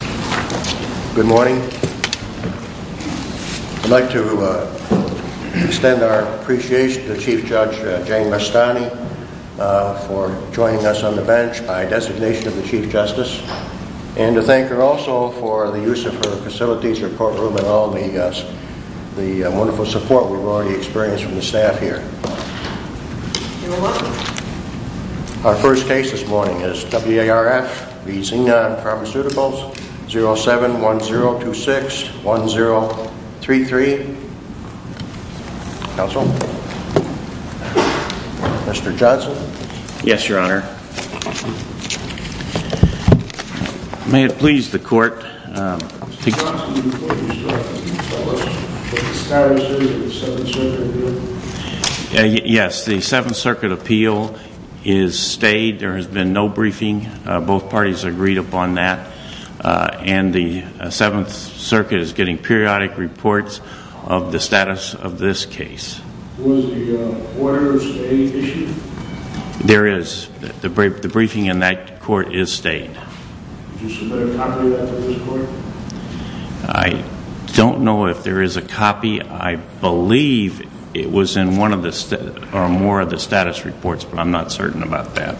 Good morning. I'd like to extend our appreciation to Chief Judge Jane Mastani for joining us on the bench by designation of the Chief Justice and to thank her also for the use of her facilities, her courtroom, and all the wonderful support we've already experienced from the staff here. You're welcome. Our first case this morning is W.A.R.F. v. Xenon Pharmaceuticals 07-1026-1033. Counsel? Mr. Johnson? Yes, Your Honor. May it please the Court. Mr. Johnson, before you start, can you tell us what the status is of the Seventh Circuit Appeal? Yes, the Seventh Circuit Appeal is stayed. There has been no briefing. Both parties agreed upon that. And the Seventh Circuit is getting periodic reports of the status of this case. Was the order stayed? There is. The briefing in that court is stayed. Did you submit a copy of that to this court? I don't know if there is a copy. I believe it was in one of the or more of the status reports, but I'm not certain about that.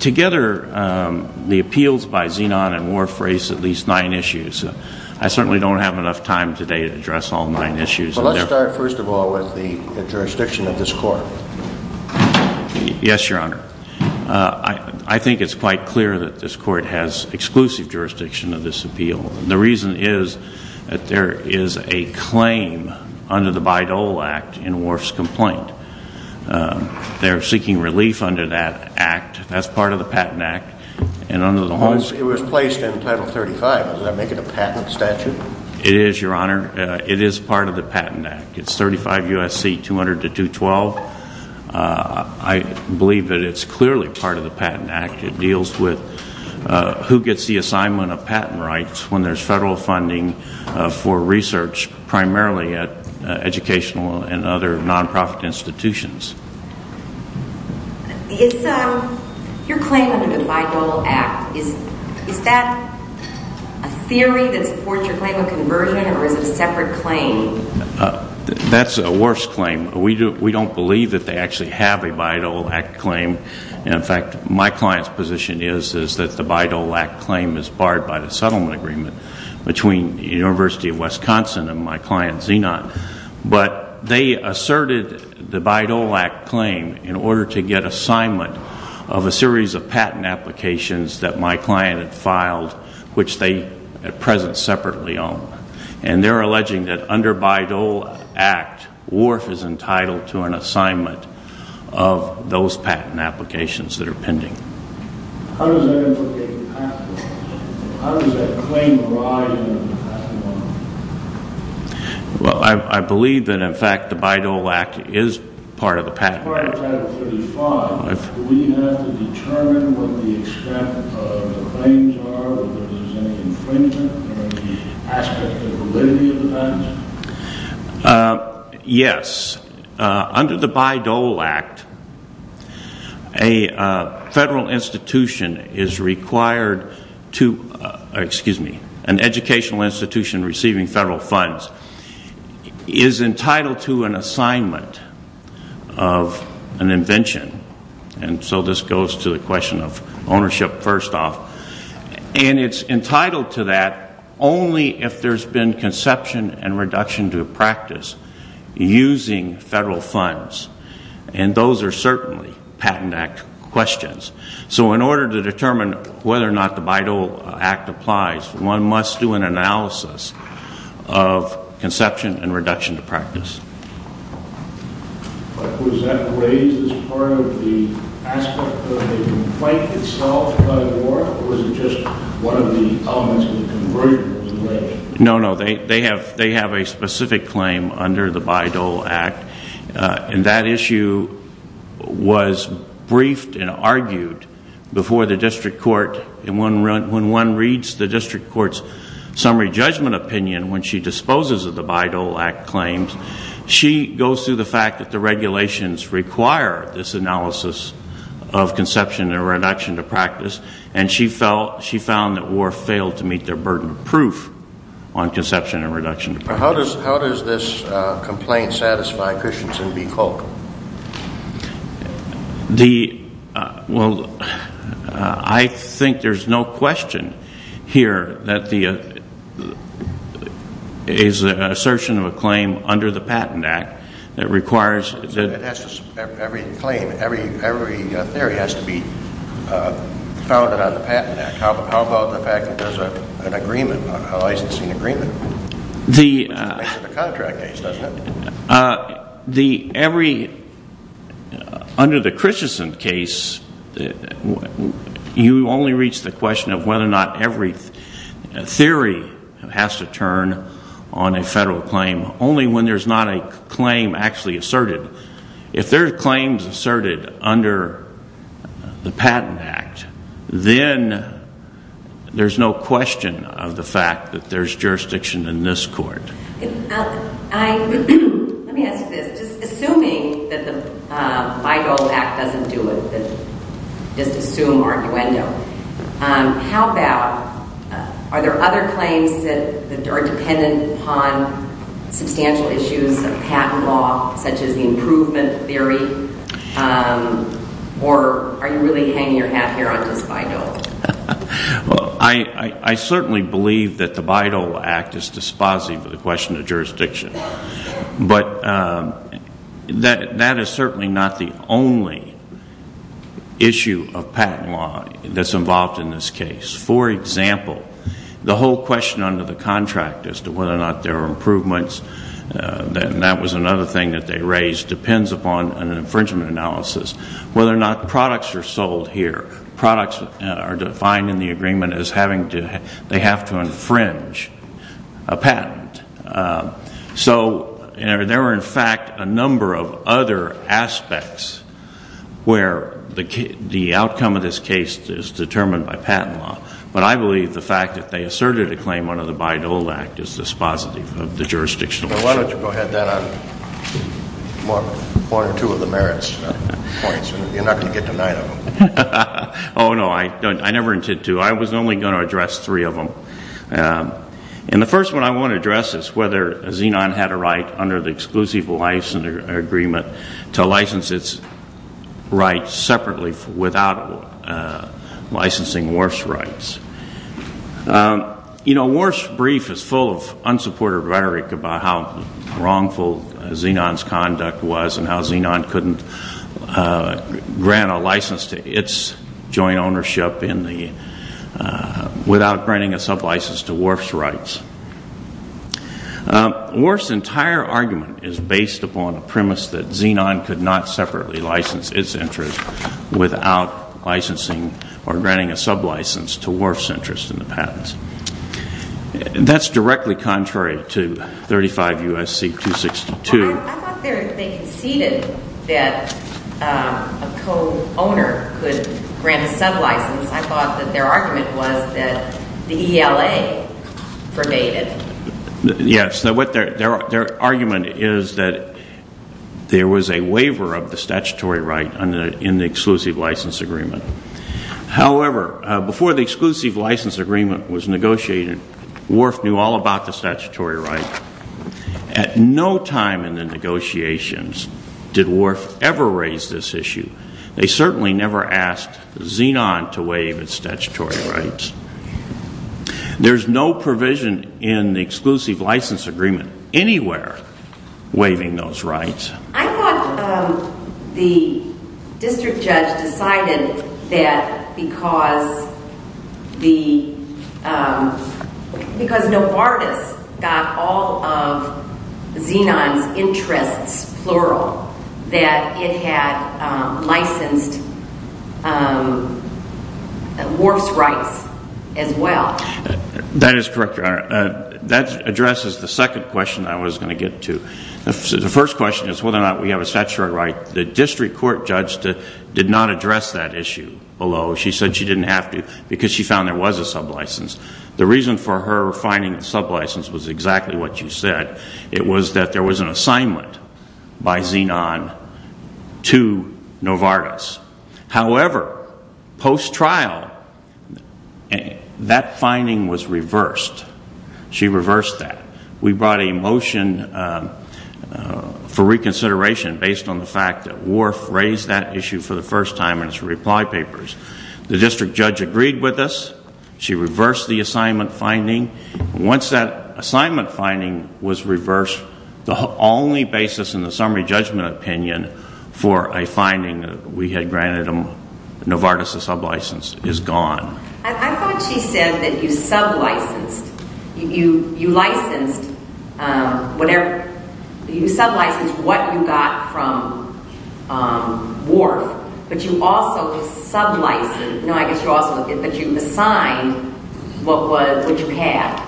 Together, the appeals by Xenon and W.A.R.F. raised at least nine issues. I certainly don't have enough time today to address all nine issues. Let's start first of all with the jurisdiction of this court. Yes, Your Honor. I think it's quite clear that this court has exclusive jurisdiction of this appeal. The reason is that there is a claim under the Bayh-Dole Act in W.A.R.F.'s complaint. They're seeking relief under that act. That's part of the Patent Act. It was placed in Title 35. Does that make it a patent statute? It is, Your Honor. It is part of the Patent Act. It's 35 U.S.C. 200-212. I believe that it's clearly part of the Patent Act. It deals with who gets the assignment of patent rights when there's federal funding for research primarily at educational and other non-profit institutions. Your claim under the Bayh-Dole Act, is that a theory that supports your claim of conversion or is it a separate claim? That's a W.A.R.F.'s claim. We don't believe that they actually have a Bayh-Dole Act claim. In fact, my client's position is that the Bayh-Dole Act claim is barred by the settlement agreement between the University of Wisconsin and my client, Xenon. But they asserted the Bayh-Dole Act claim in order to get assignment of a series of patent applications that my client had filed, which they at present separately own. And they're alleging that under Bayh-Dole Act, W.A.R.F. is entitled to an assignment of those patent applications that are pending. How does that claim arise in the past month? Well, I believe that in fact the Bayh-Dole Act is part of the patent. As part of Title 35, do we have to determine what the extent of the claims are, whether there's any infringement, or any aspect of validity of the patent? Yes. Under the Bayh-Dole Act, an educational institution receiving federal funds is entitled to an assignment of an invention. And so this goes to the question of ownership, first off. And it's entitled to that only if there's been conception and reduction to practice using federal funds. And those are certainly Patent Act questions. So in order to determine whether or not the Bayh-Dole Act applies, one must do an analysis of conception and reduction to practice. But was that raised as part of the aspect of the complaint itself by W.A.R.F., or was it just one of the elements of the conversion that was raised? No, no. They have a specific claim under the Bayh-Dole Act. And that issue was briefed and argued before the district court. And when one reads the district court's summary judgment opinion when she disposes of the Bayh-Dole Act claims, she goes through the fact that the regulations require this analysis of conception and reduction to practice. And she found that W.A.R.F. failed to meet their burden of proof on conception and reduction to practice. How does this complaint satisfy Christensen v. Kolk? Well, I think there's no question here that there is an assertion of a claim under the Patent Act that requires... Every claim, every theory has to be founded on the Patent Act. How about the fact that there's an agreement, a licensing agreement? The contract case, doesn't it? Under the Christensen case, you only reach the question of whether or not every theory has to turn on a federal claim, only when there's not a claim actually asserted. If there are claims asserted under the Patent Act, then there's no question of the fact that there's jurisdiction in this court. Let me ask you this. Just assuming that the Bayh-Dole Act doesn't do it, just assume or innuendo, are there other claims that are dependent upon substantial issues of patent law, such as the improvement theory? Or are you really hanging your hat here on just Bayh-Dole? Well, I certainly believe that the Bayh-Dole Act is dispositive of the question of jurisdiction. But that is certainly not the only issue of patent law that's involved in this case. For example, the whole question under the contract as to whether or not there are improvements, and that was another thing that they raised, depends upon an infringement analysis. Whether or not products are sold here, products are defined in the agreement as they have to infringe a patent. So there are, in fact, a number of other aspects where the outcome of this case is determined by patent law. But I believe the fact that they asserted a claim under the Bayh-Dole Act is dispositive of the jurisdictional issue. Why don't you go ahead then on one or two of the merits points? You're not going to get to nine of them. Oh, no, I never intend to. I was only going to address three of them. And the first one I want to address is whether Xenon had a right under the exclusive license agreement to license its rights separately without licensing WARF's rights. You know, WARF's brief is full of unsupported rhetoric about how wrongful Xenon's conduct was and how Xenon couldn't grant a license to its joint ownership without granting a sublicense to WARF's rights. WARF's entire argument is based upon a premise that Xenon could not separately license its interest without licensing or granting a sublicense to WARF's interest in the patents. That's directly contrary to 35 U.S.C. 262. I thought they conceded that a co-owner could grant a sublicense. I thought that their argument was that the ELA forgave it. Yes, their argument is that there was a waiver of the statutory right in the exclusive license agreement. However, before the exclusive license agreement was negotiated, WARF knew all about the statutory right. At no time in the negotiations did WARF ever raise this issue. They certainly never asked Xenon to waive its statutory rights. There's no provision in the exclusive license agreement anywhere waiving those rights. I thought the district judge decided that because Novartis got all of Xenon's interests, plural, that it had licensed WARF's rights as well. That is correct, Your Honor. That addresses the second question I was going to get to. The first question is whether or not we have a statutory right. The district court judge did not address that issue, although she said she didn't have to because she found there was a sublicense. The reason for her finding a sublicense was exactly what you said. It was that there was an assignment by Xenon to Novartis. However, post-trial, that finding was reversed. She reversed that. We brought a motion for reconsideration based on the fact that WARF raised that issue for the first time in its reply papers. The district judge agreed with us. She reversed the assignment finding. Once that assignment finding was reversed, the only basis in the summary judgment opinion for a finding we had granted Novartis a sublicense is gone. I thought she said that you sublicensed. You licensed whatever. You sublicensed what you got from WARF, but you also sublicensed. No, I guess you also assigned what you had.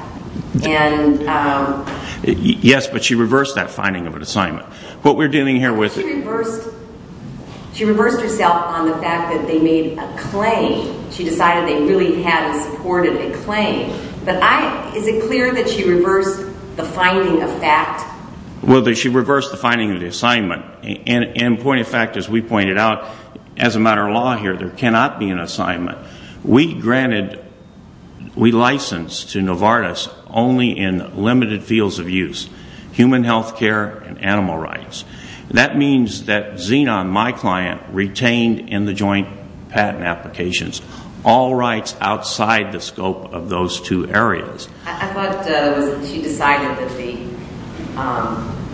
Yes, but she reversed that finding of an assignment. She reversed herself on the fact that they made a claim. She decided they really had and supported a claim. But is it clear that she reversed the finding of fact? Well, she reversed the finding of the assignment. And point of fact, as we pointed out, as a matter of law here, there cannot be an assignment. We licensed to Novartis only in limited fields of use, human health care and animal rights. That means that Xenon, my client, retained in the joint patent applications all rights outside the scope of those two areas. I thought she decided that the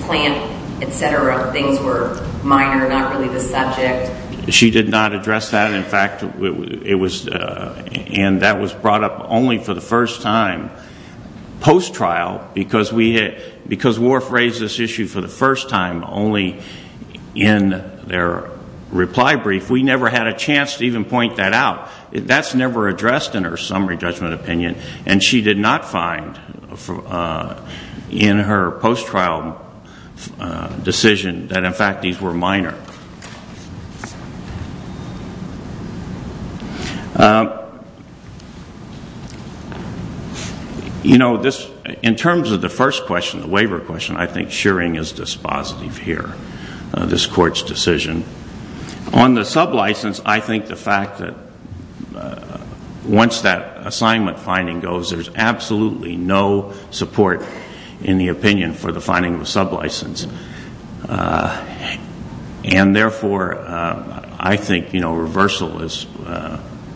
plant, et cetera, things were minor, not really the subject. She did not address that. In fact, that was brought up only for the first time post-trial because WARF raised this issue for the first time only in their reply brief. We never had a chance to even point that out. That's never addressed in her summary judgment opinion. And she did not find in her post-trial decision that, in fact, these were minor. You know, in terms of the first question, the waiver question, I think shearing is dispositive here, this court's decision. On the sublicense, I think the fact that once that assignment finding goes, there's absolutely no support in the opinion for the finding of a sublicense. And therefore, I think, you know, reversal is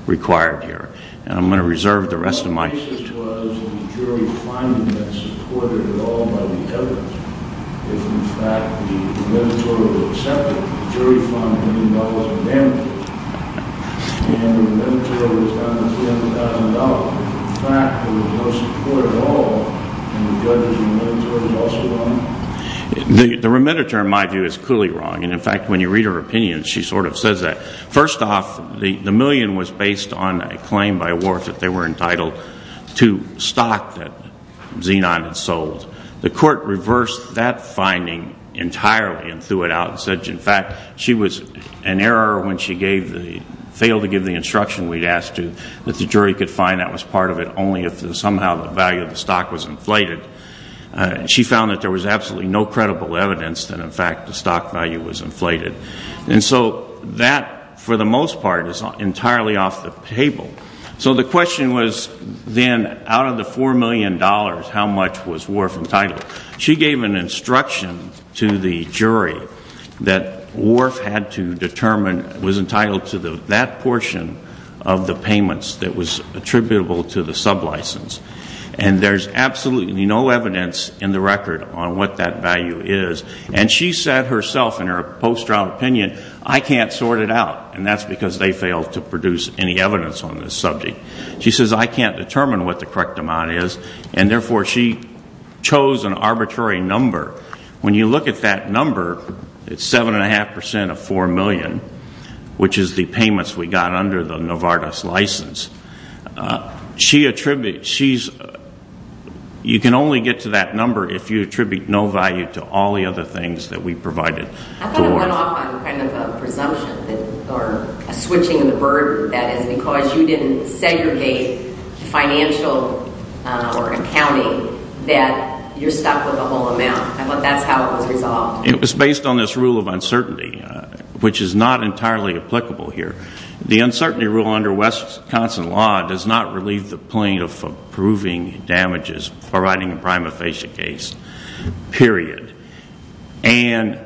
required here. And I'm going to reserve the rest of my time. The problem was in the jury finding that supported at all by the evidence. If, in fact, the remediatory was accepted, the jury found a million dollars in damages. And the remediatory was down to $300,000. In fact, there was no support at all. And the judge's remediatory was also wrong. The remediatory, in my view, is clearly wrong. And, in fact, when you read her opinion, she sort of says that. First off, the million was based on a claim by Wharf that they were entitled to stock that Xenon had sold. The court reversed that finding entirely and threw it out and said, in fact, she was in error when she failed to give the instruction we'd asked to, that the jury could find that was part of it only if somehow the value of the stock was inflated. She found that there was absolutely no credible evidence that, in fact, the stock value was inflated. And so that, for the most part, is entirely off the table. So the question was then, out of the $4 million, how much was Wharf entitled? She gave an instruction to the jury that Wharf had to determine was entitled to that portion of the payments that was attributable to the sublicense. And there's absolutely no evidence in the record on what that value is. And she said herself in her post-trial opinion, I can't sort it out. And that's because they failed to produce any evidence on this subject. She says, I can't determine what the correct amount is. And, therefore, she chose an arbitrary number. When you look at that number, it's 7.5% of $4 million, which is the payments we got under the Novartis license. You can only get to that number if you attribute no value to all the other things that we provided. I thought it went off on kind of a presumption or a switching of the bird, that is, because you didn't segregate financial or accounting, that you're stuck with a whole amount. I thought that's how it was resolved. It was based on this rule of uncertainty, which is not entirely applicable here. The uncertainty rule under Wisconsin law does not relieve the point of approving damages for writing a prima facie case, period. And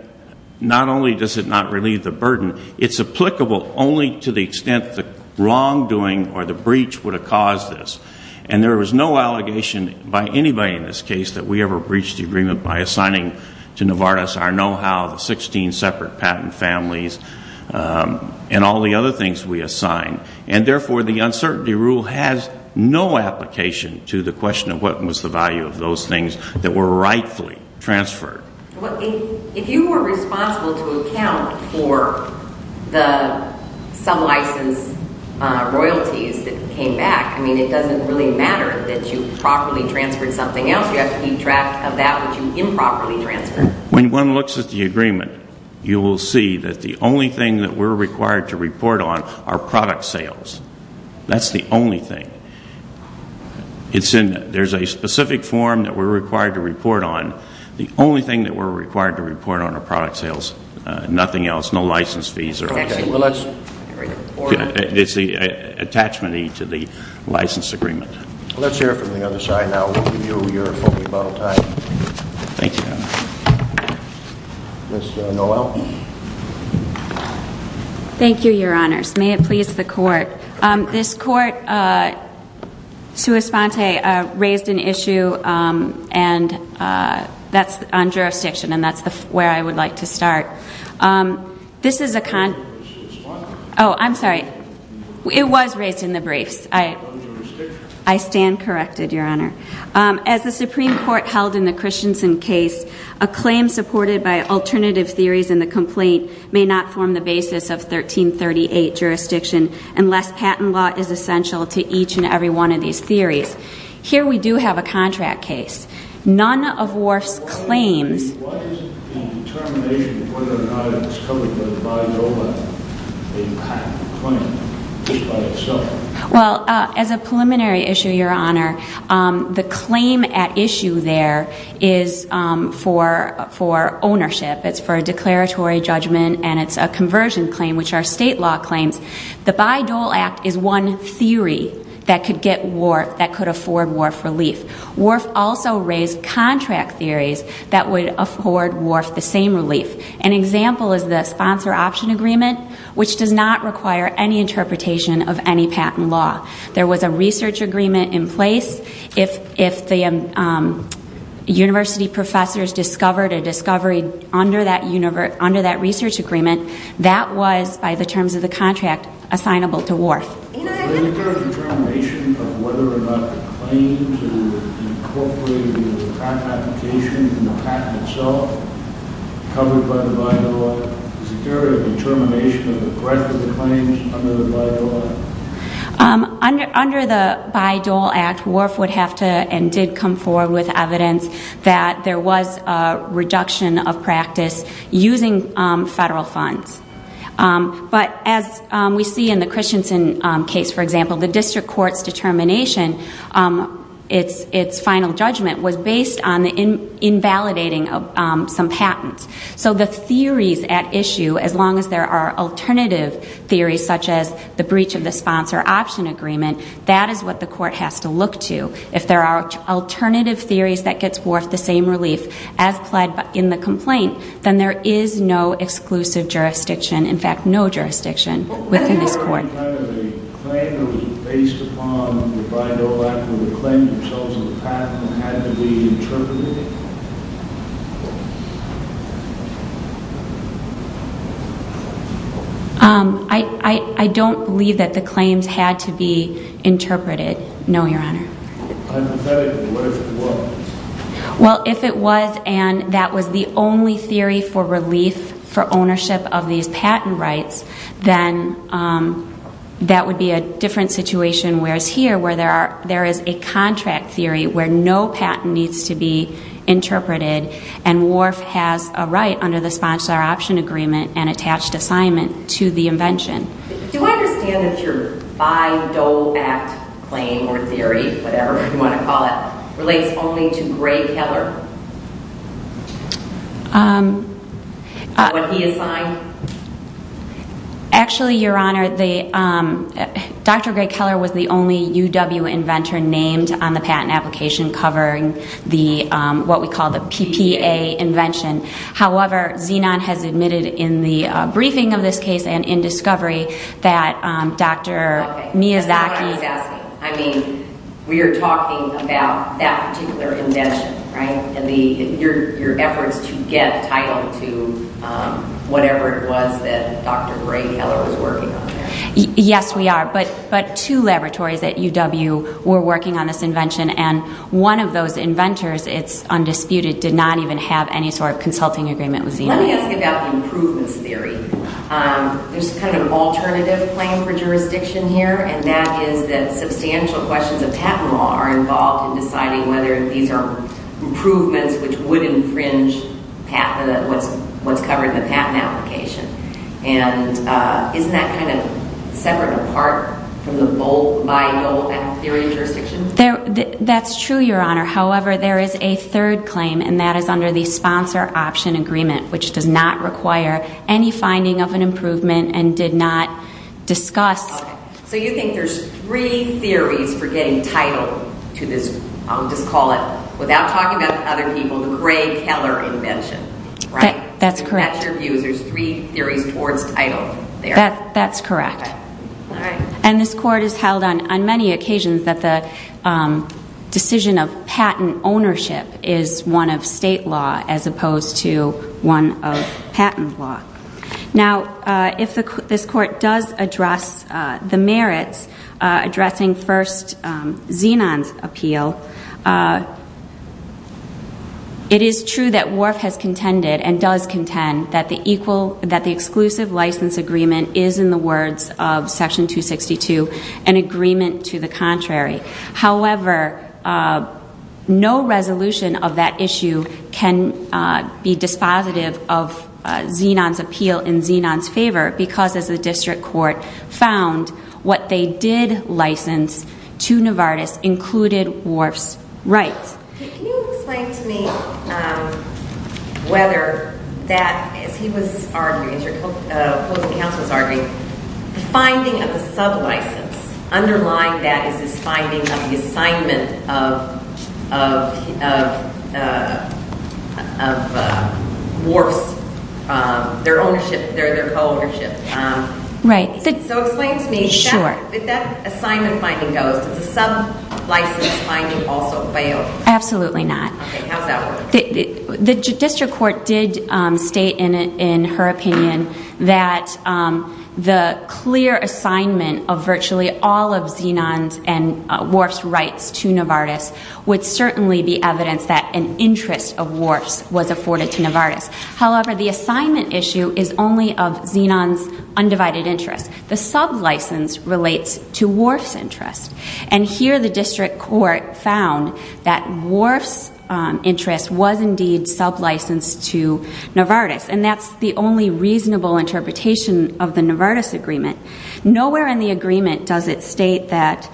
not only does it not relieve the burden, it's applicable only to the extent the wrongdoing or the breach would have caused this. And there was no allegation by anybody in this case that we ever breached the agreement by assigning to Novartis our know-how, the 16 separate patent families, and all the other things we assigned. And therefore, the uncertainty rule has no application to the question of what was the value of those things that were rightfully transferred. Well, if you were responsible to account for the some license royalties that came back, I mean, it doesn't really matter that you properly transferred something else. You have to keep track of that which you improperly transferred. When one looks at the agreement, you will see that the only thing that we're required to report on are product sales. That's the only thing. There's a specific form that we're required to report on. The only thing that we're required to report on are product sales. Nothing else. No license fees or anything. It's the attachment to the license agreement. Let's hear it from the other side now. Thank you, Your Honor. Ms. Noel. Thank you, Your Honors. May it please the Court. This Court, sua sponte, raised an issue on jurisdiction, and that's where I would like to start. Oh, I'm sorry. It was raised in the briefs. I stand corrected, Your Honor. As the Supreme Court held in the Christensen case, a claim supported by alternative theories in the complaint may not form the basis of 1338 jurisdiction unless patent law is essential to each and every one of these theories. Here we do have a contract case. None of Worf's claims... Well, as a preliminary issue, Your Honor, the claim at issue there is for ownership. It's for a declaratory judgment, and it's a conversion claim, which are state law claims. The Bayh-Dole Act is one theory that could afford Worf relief. Worf also raised contract theories that would afford Worf the same relief. An example is the sponsor option agreement, which does not require any interpretation of any patent law. There was a research agreement in place. If the university professors discovered a discovery under that research agreement, that was, by the terms of the contract, assignable to Worf. Is there a determination of whether or not the claim to incorporate a patent application in the patent itself, covered by the Bayh-Dole Act? Is there a determination of the breadth of the claims under the Bayh-Dole Act? Under the Bayh-Dole Act, Worf would have to, and did come forward with evidence, that there was a reduction of practice using federal funds. But as we see in the Christensen case, for example, the district court's determination, its final judgment, was based on invalidating some patents. So the theories at issue, as long as there are alternative theories, such as the breach of the sponsor option agreement, that is what the court has to look to. If there are alternative theories that gets Worf the same relief as pled in the complaint, then there is no exclusive jurisdiction, in fact, no jurisdiction, within this court. But wouldn't that be kind of a claim that was based upon the Bayh-Dole Act, where the claims themselves in the patent had to be interpreted? I don't believe that the claims had to be interpreted, no, Your Honor. I'm pathetic, but what if it was? Well, if it was, and that was the only theory for relief for ownership of these patent rights, then that would be a different situation, whereas here, where there is a contract theory where no patent needs to be interpreted, and Worf has a right under the sponsor option agreement and attached assignment to the invention. Do I understand that your Bayh-Dole Act claim or theory, whatever you want to call it, relates only to Gray Keller? What he assigned? Actually, Your Honor, Dr. Gray Keller was the only UW inventor named on the patent application covering what we call the PPA invention. However, Xenon has admitted in the briefing of this case and in discovery that Dr. Miyazaki... I mean, we are talking about that particular invention, right, and your efforts to get title to whatever it was that Dr. Gray Keller was working on there. Yes, we are, but two laboratories at UW were working on this invention, and one of those inventors, it's undisputed, did not even have any sort of consulting agreement with Xenon. Let me ask about the improvements theory. There's kind of an alternative claim for jurisdiction here, and that is that substantial questions of patent law are involved in deciding whether these are improvements which would infringe what's covered in the patent application. And isn't that kind of separate and apart from the Bayh-Dole Act theory of jurisdiction? That's true, Your Honor. However, there is a third claim, and that is under the sponsor option agreement, which does not require any finding of an improvement and did not discuss... So you think there's three theories for getting title to this, I'll just call it, without talking about other people, the Gray Keller invention, right? That's correct. To match your views, there's three theories towards title there. That's correct. All right. And this Court has held on many occasions that the decision of patent ownership is one of state law as opposed to one of patent law. Now, if this Court does address the merits addressing, first, Zenon's appeal, it is true that Wharf has contended and does contend that the exclusive license agreement is, in the words of Section 262, an agreement to the contrary. However, no resolution of that issue can be dispositive of Zenon's appeal in Zenon's favor because, as the district court found, what they did license to Novartis included Wharf's rights. Can you explain to me whether that, as he was arguing, as your opposing counsel was arguing, the finding of the sub-license underlying that is this finding of the assignment of Wharf's, their ownership, their co-ownership. Right. So explain to me if that assignment finding goes, does the sub-license finding also fail? Absolutely not. Okay. How does that work? The district court did state in her opinion that the clear assignment of virtually all of Zenon's and Wharf's rights to Novartis would certainly be evidence that an interest of Wharf's was afforded to Novartis. However, the assignment issue is only of Zenon's undivided interest. The sub-license relates to Wharf's interest. And here the district court found that Wharf's interest was indeed sub-licensed to Novartis, and that's the only reasonable interpretation of the Novartis agreement. Nowhere in the agreement does it state that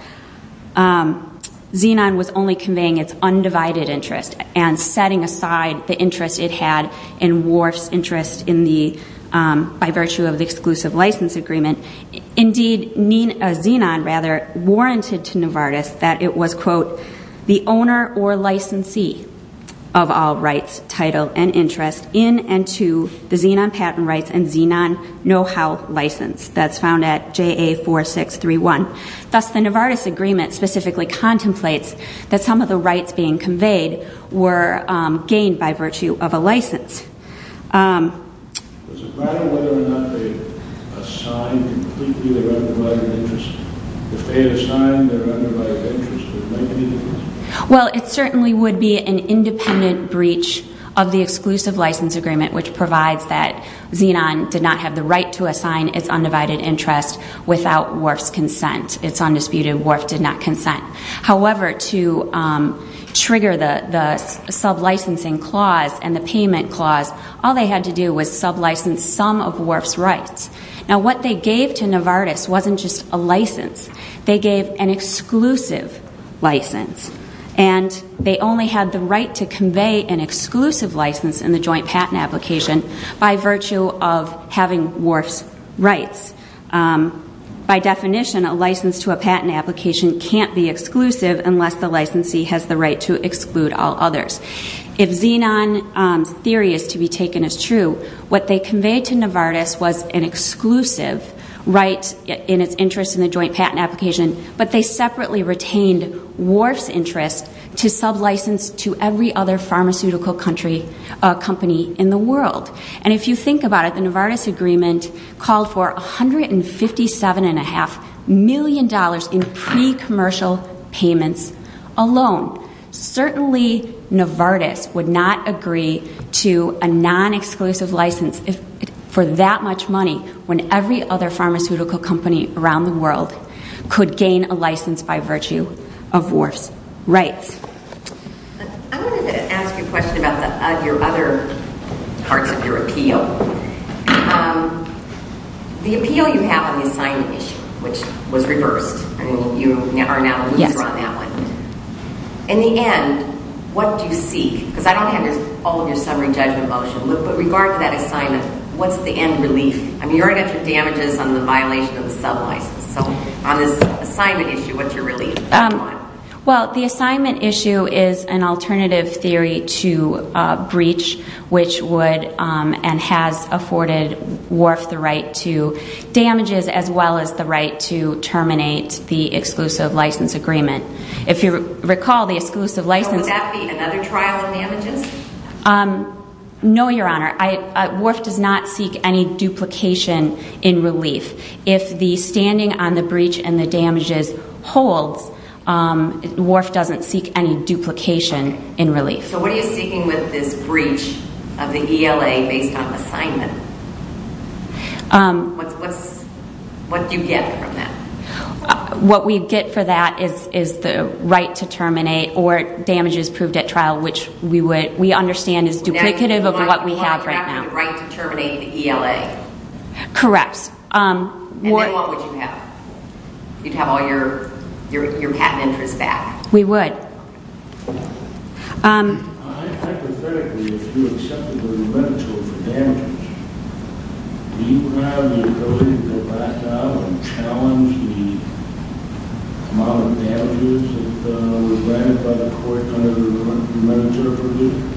Zenon was only conveying its undivided interest and setting aside the interest it had in Wharf's interest by virtue of the exclusive license agreement. Indeed, Zenon, rather, warranted to Novartis that it was, quote, the owner or licensee of all rights, title, and interest in and to the Zenon patent rights and Zenon know-how license. That's found at JA 4631. Thus, the Novartis agreement specifically contemplates that some of the rights being conveyed were gained by virtue of a license. Does it matter whether or not they assigned completely their undivided interest? If they had assigned their undivided interest, would it make any difference? Well, it certainly would be an independent breach of the exclusive license agreement, which provides that Zenon did not have the right to assign its undivided interest without Wharf's consent. It's undisputed. Wharf did not consent. However, to trigger the sublicensing clause and the payment clause, all they had to do was sublicense some of Wharf's rights. Now, what they gave to Novartis wasn't just a license. They gave an exclusive license, and they only had the right to convey an exclusive license in the joint patent application by virtue of having Wharf's rights. By definition, a license to a patent application can't be exclusive unless the licensee has the right to exclude all others. If Zenon's theory is to be taken as true, what they conveyed to Novartis was an exclusive right in its interest in the joint patent application, but they separately retained Wharf's interest to sublicense to every other pharmaceutical company in the world. And if you think about it, the Novartis agreement called for $157.5 million in pre-commercial payments alone. Certainly, Novartis would not agree to a non-exclusive license for that much money when every other pharmaceutical company around the world could gain a license by virtue of Wharf's rights. I wanted to ask you a question about your other parts of your appeal. The appeal you have on the assignment issue, which was reversed. I mean, you are now a loser on that one. In the end, what do you seek? Because I don't have all of your summary judgment motion. But regard to that assignment, what's the end relief? I mean, you already got your damages on the violation of the sublicense. So on this assignment issue, what's your relief? Well, the assignment issue is an alternative theory to breach, which would and has afforded Wharf the right to damages as well as the right to terminate the exclusive license agreement. If you recall, the exclusive license… Would that be another trial of damages? No, Your Honor. Wharf does not seek any duplication in relief. If the standing on the breach and the damages holds, Wharf doesn't seek any duplication in relief. So what are you seeking with this breach of the ELA based on the assignment? What do you get from that? What we get for that is the right to terminate or damages proved at trial, which we understand is duplicative of what we have right now. Now you're marking off the right to terminate the ELA. Correct. And then what would you have? You'd have all your patent interests back. We would. Hypothetically, if you accepted the remittiture for damages, do you have the ability to go back out and challenge the amount of damages that were granted by the court under the remittiture of relief?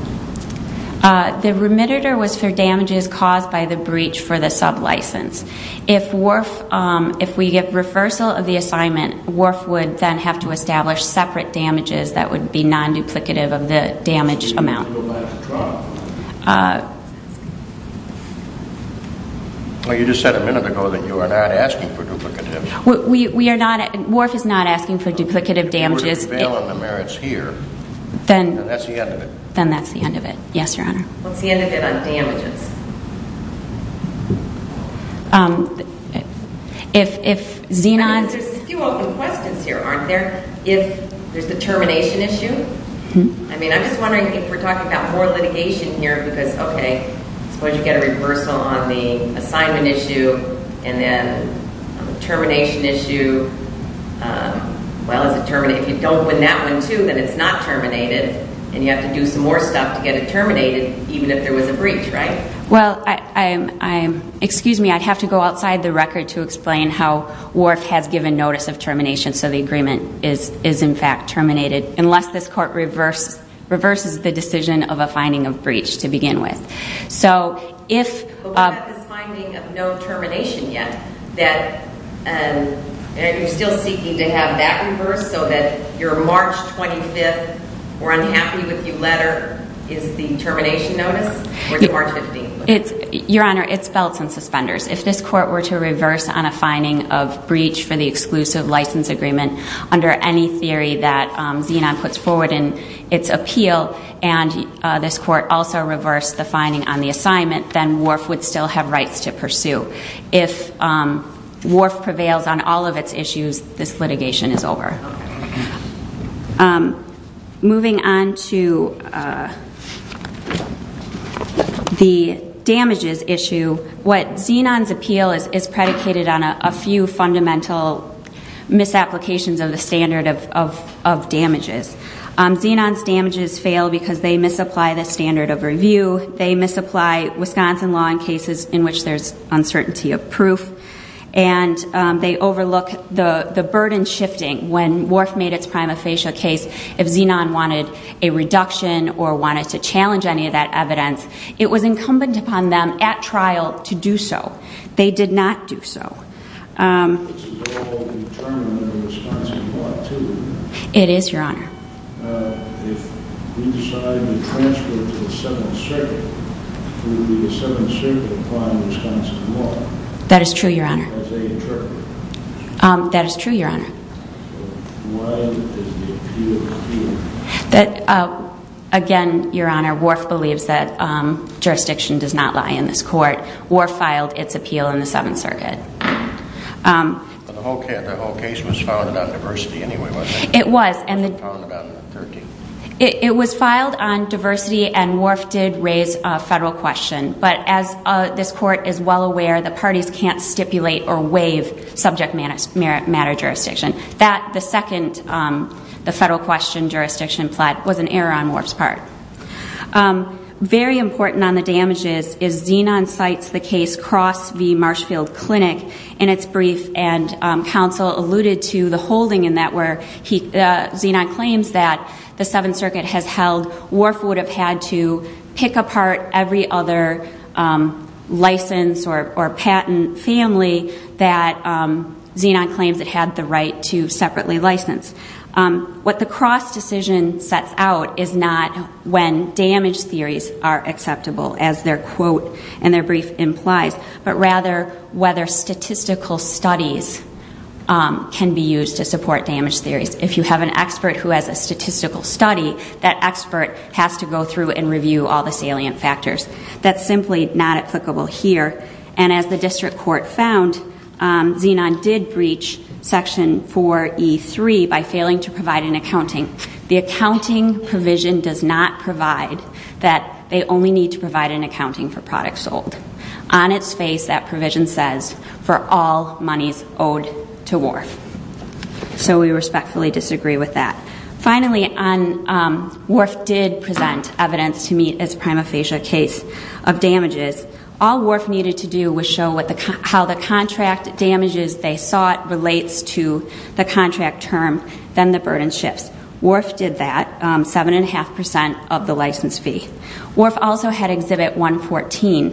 The remittiture was for damages caused by the breach for the sub-license. If we get reversal of the assignment, Wharf would then have to establish separate damages that would be non-duplicative of the damage amount. You just said a minute ago that you are not asking for duplicative. Wharf is not asking for duplicative damages. Then that's the end of it. Then that's the end of it. Yes, Your Honor. What's the end of it on damages? There's a few open questions here, aren't there? If there's the termination issue. I'm just wondering if we're talking about more litigation here, because suppose you get a reversal on the assignment issue and then on the termination issue. If you don't win that one too, then it's not terminated and you have to do some more stuff to get it terminated, even if there was a breach, right? Excuse me, I'd have to go outside the record to explain how Wharf has given notice of termination, so the agreement is in fact terminated, unless this court reverses the decision of a finding of breach to begin with. But we have this finding of no termination yet, and you're still seeking to have that reversed so that your March 25th, we're unhappy with you letter, is the termination notice, or is it March 15th? Your Honor, it's belts and suspenders. If this court were to reverse on a finding of breach for the exclusive license agreement, under any theory that Zenon puts forward in its appeal, and this court also reversed the finding on the assignment, then Wharf would still have rights to pursue. If Wharf prevails on all of its issues, this litigation is over. Moving on to the damages issue, what Zenon's appeal is predicated on are a few fundamental misapplications of the standard of damages. Zenon's damages fail because they misapply the standard of review, they misapply Wisconsin law in cases in which there's uncertainty of proof, and they overlook the burden shifting. When Wharf made its prima facie case, if Zenon wanted a reduction or wanted to challenge any of that evidence, it was incumbent upon them at trial to do so. They did not do so. This is all determined in Wisconsin law, too, isn't it? It is, Your Honor. If we decided to transfer it to the Seventh Circuit, would the Seventh Circuit apply Wisconsin law? That is true, Your Honor. As they interpret it? That is true, Your Honor. Why is the appeal appeal? Again, Your Honor, Wharf believes that jurisdiction does not lie in this court. Wharf filed its appeal in the Seventh Circuit. The whole case was filed about diversity anyway, wasn't it? It was. It was filed on diversity, and Wharf did raise a federal question. But as this court is well aware, the parties can't stipulate or waive subject matter jurisdiction. The second federal question jurisdiction was an error on Wharf's part. Very important on the damages is Xenon cites the case Cross v. Marshfield Clinic in its brief, and counsel alluded to the holding in that where Xenon claims that the Seventh Circuit has held Wharf would have had to pick apart every other license or patent family that Xenon claims it had the right to separately license. What the Cross decision sets out is not when damage theories are acceptable, as their quote in their brief implies, but rather whether statistical studies can be used to support damage theories. If you have an expert who has a statistical study, that expert has to go through and review all the salient factors. That's simply not applicable here. And as the district court found, Xenon did breach Section 4E3 by failing to provide an accounting. The accounting provision does not provide that they only need to provide an accounting for products sold. On its face, that provision says, for all monies owed to Wharf. So we respectfully disagree with that. Finally, Wharf did present evidence to meet its prima facie case of damages. All Wharf needed to do was show how the contract damages they sought relates to the contract term, then the burden shifts. Wharf did that, 7.5% of the license fee. Wharf also had Exhibit 114,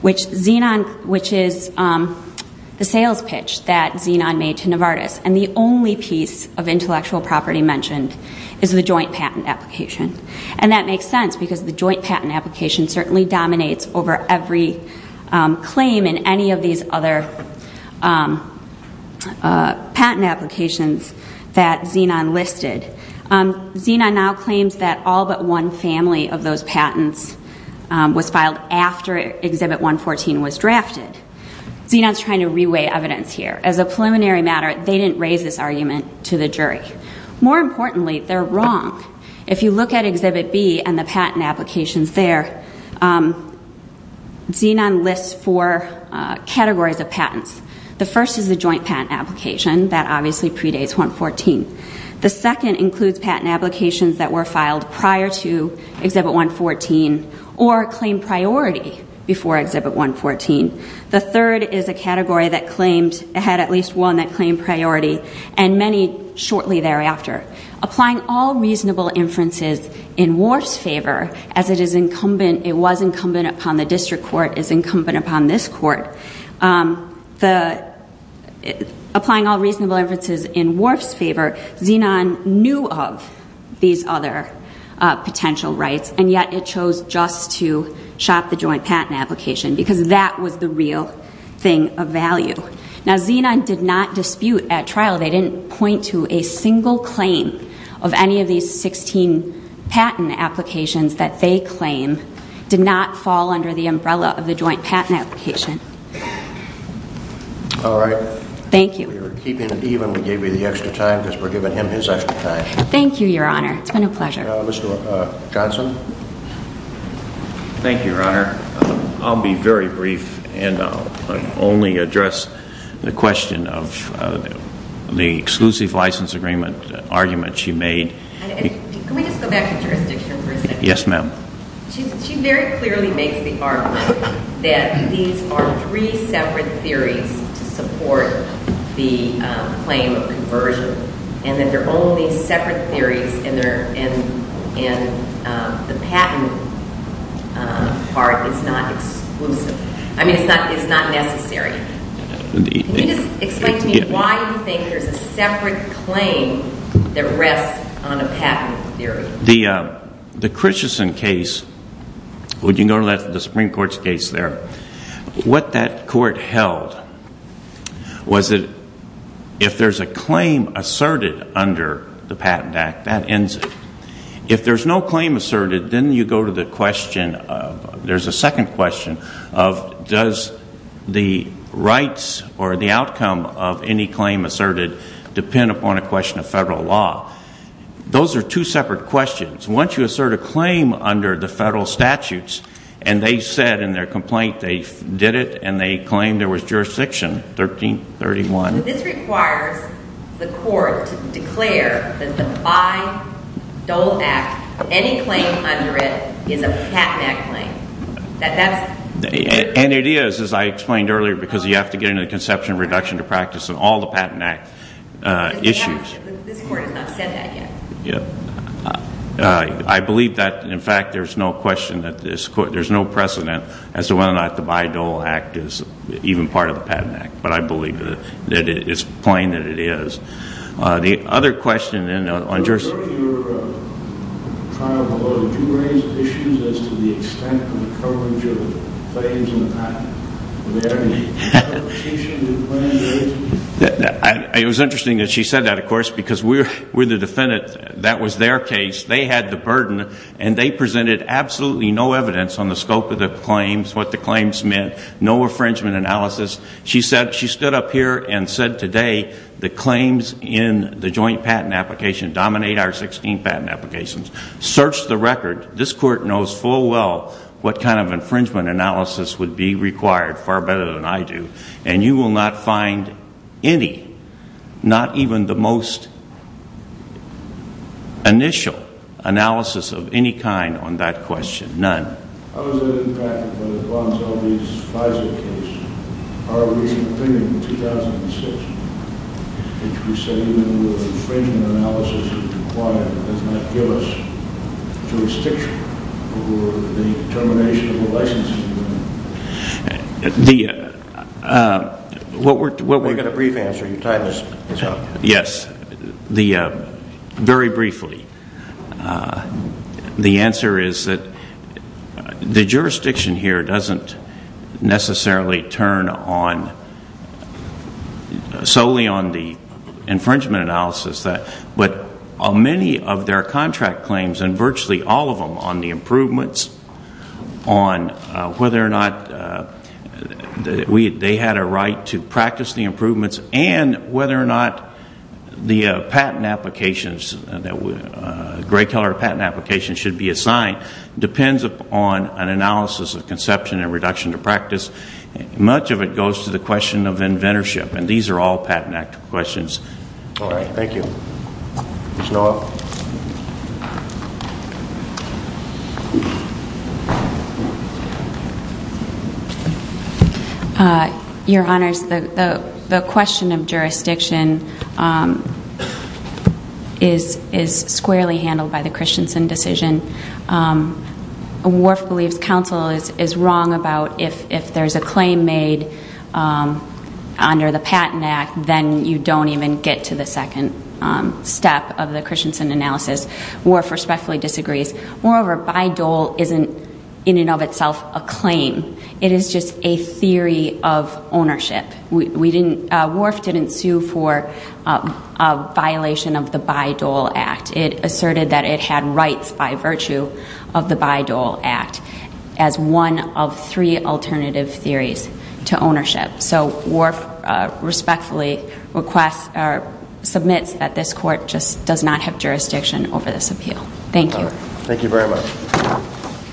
which is the sales pitch that Xenon made to Novartis. And the only piece of intellectual property mentioned is the joint patent application. And that makes sense, because the joint patent application certainly dominates over every claim in any of these other patent applications that Xenon listed. Xenon now claims that all but one family of those patents was filed after Exhibit 114 was drafted. Xenon's trying to re-weigh evidence here. As a preliminary matter, they didn't raise this argument to the jury. More importantly, they're wrong. If you look at Exhibit B and the patent applications there, Xenon lists four categories of patents. The first is the joint patent application. That obviously predates 114. The second includes patent applications that were filed prior to Exhibit 114 or claimed priority before Exhibit 114. The third is a category that had at least one that claimed priority and many shortly thereafter. Applying all reasonable inferences in Worf's favor, as it was incumbent upon the district court, as incumbent upon this court, applying all reasonable inferences in Worf's favor, Xenon knew of these other potential rights, and yet it chose just to shop the joint patent application, because that was the real thing of value. Now, Xenon did not dispute at trial. They didn't point to a single claim of any of these 16 patent applications that they claim did not fall under the umbrella of the joint patent application. All right. Thank you. We were keeping it even. We gave you the extra time because we're giving him his extra time. Thank you, Your Honor. Mr. Johnson. Thank you, Your Honor. I'll be very brief, and I'll only address the question of the exclusive license agreement argument she made. Can we just go back to jurisdiction for a second? Yes, ma'am. She very clearly makes the argument that these are three separate theories to support the claim of conversion and that they're only separate theories and the patent part is not exclusive. I mean, it's not necessary. Can you just explain to me why you think there's a separate claim that rests on a patent theory? The Christensen case, would you go to the Supreme Court's case there? What that court held was that if there's a claim asserted under the Patent Act, that ends it. If there's no claim asserted, then you go to the question of, there's a second question of, does the rights or the outcome of any claim asserted depend upon a question of federal law? Those are two separate questions. Once you assert a claim under the federal statutes, and they said in their complaint they did it, and they claimed there was jurisdiction, 1331. This requires the court to declare that by Dole Act, any claim under it is a Patent Act claim. And it is, as I explained earlier, because you have to get into the conception of reduction to practice of all the Patent Act issues. This court has not said that yet. I believe that, in fact, there's no question that there's no precedent as to whether or not the Bayh-Dole Act is even part of the Patent Act. But I believe that it's plain that it is. The other question on jurisprudence. In your trial below, did you raise issues as to the extent of the coverage of claims on the patent? Were there any interpretations of the claims raised? It was interesting that she said that, of course, because we're the defendant. That was their case. They had the burden, and they presented absolutely no evidence on the scope of the claims, what the claims meant, no infringement analysis. She stood up here and said today the claims in the joint patent application dominate our 16 patent applications. Search the record. This court knows full well what kind of infringement analysis would be required, far better than I do. And you will not find any, not even the most initial analysis of any kind on that question. None. How is that impacted by the Gwantel v. FISA case? Our recent opinion in 2006, which we say even with infringement analysis required, does not give us jurisdiction over the termination of a license agreement. We've got a brief answer. Your time is up. Yes, very briefly. The answer is that the jurisdiction here doesn't necessarily turn solely on the infringement analysis, but on many of their contract claims, and virtually all of them, on the improvements, on whether or not they had a right to practice the improvements, and whether or not the patent applications, gray-color patent applications should be assigned, depends upon an analysis of conception and reduction to practice. Much of it goes to the question of inventorship, and these are all patent questions. All right. Thank you. Ms. Nowak. Your Honors, the question of jurisdiction is squarely handled by the Christensen decision. Worf believes counsel is wrong about if there's a claim made under the Patent Act, then you don't even get to the second step of the Christensen analysis. Worf respectfully disagrees. Moreover, Bayh-Dole isn't in and of itself a claim. It is just a theory of ownership. Worf didn't sue for a violation of the Bayh-Dole Act. It asserted that it had rights by virtue of the Bayh-Dole Act as one of three alternative theories to ownership. So Worf respectfully submits that this court just does not have jurisdiction over this appeal. Thank you. Thank you very much.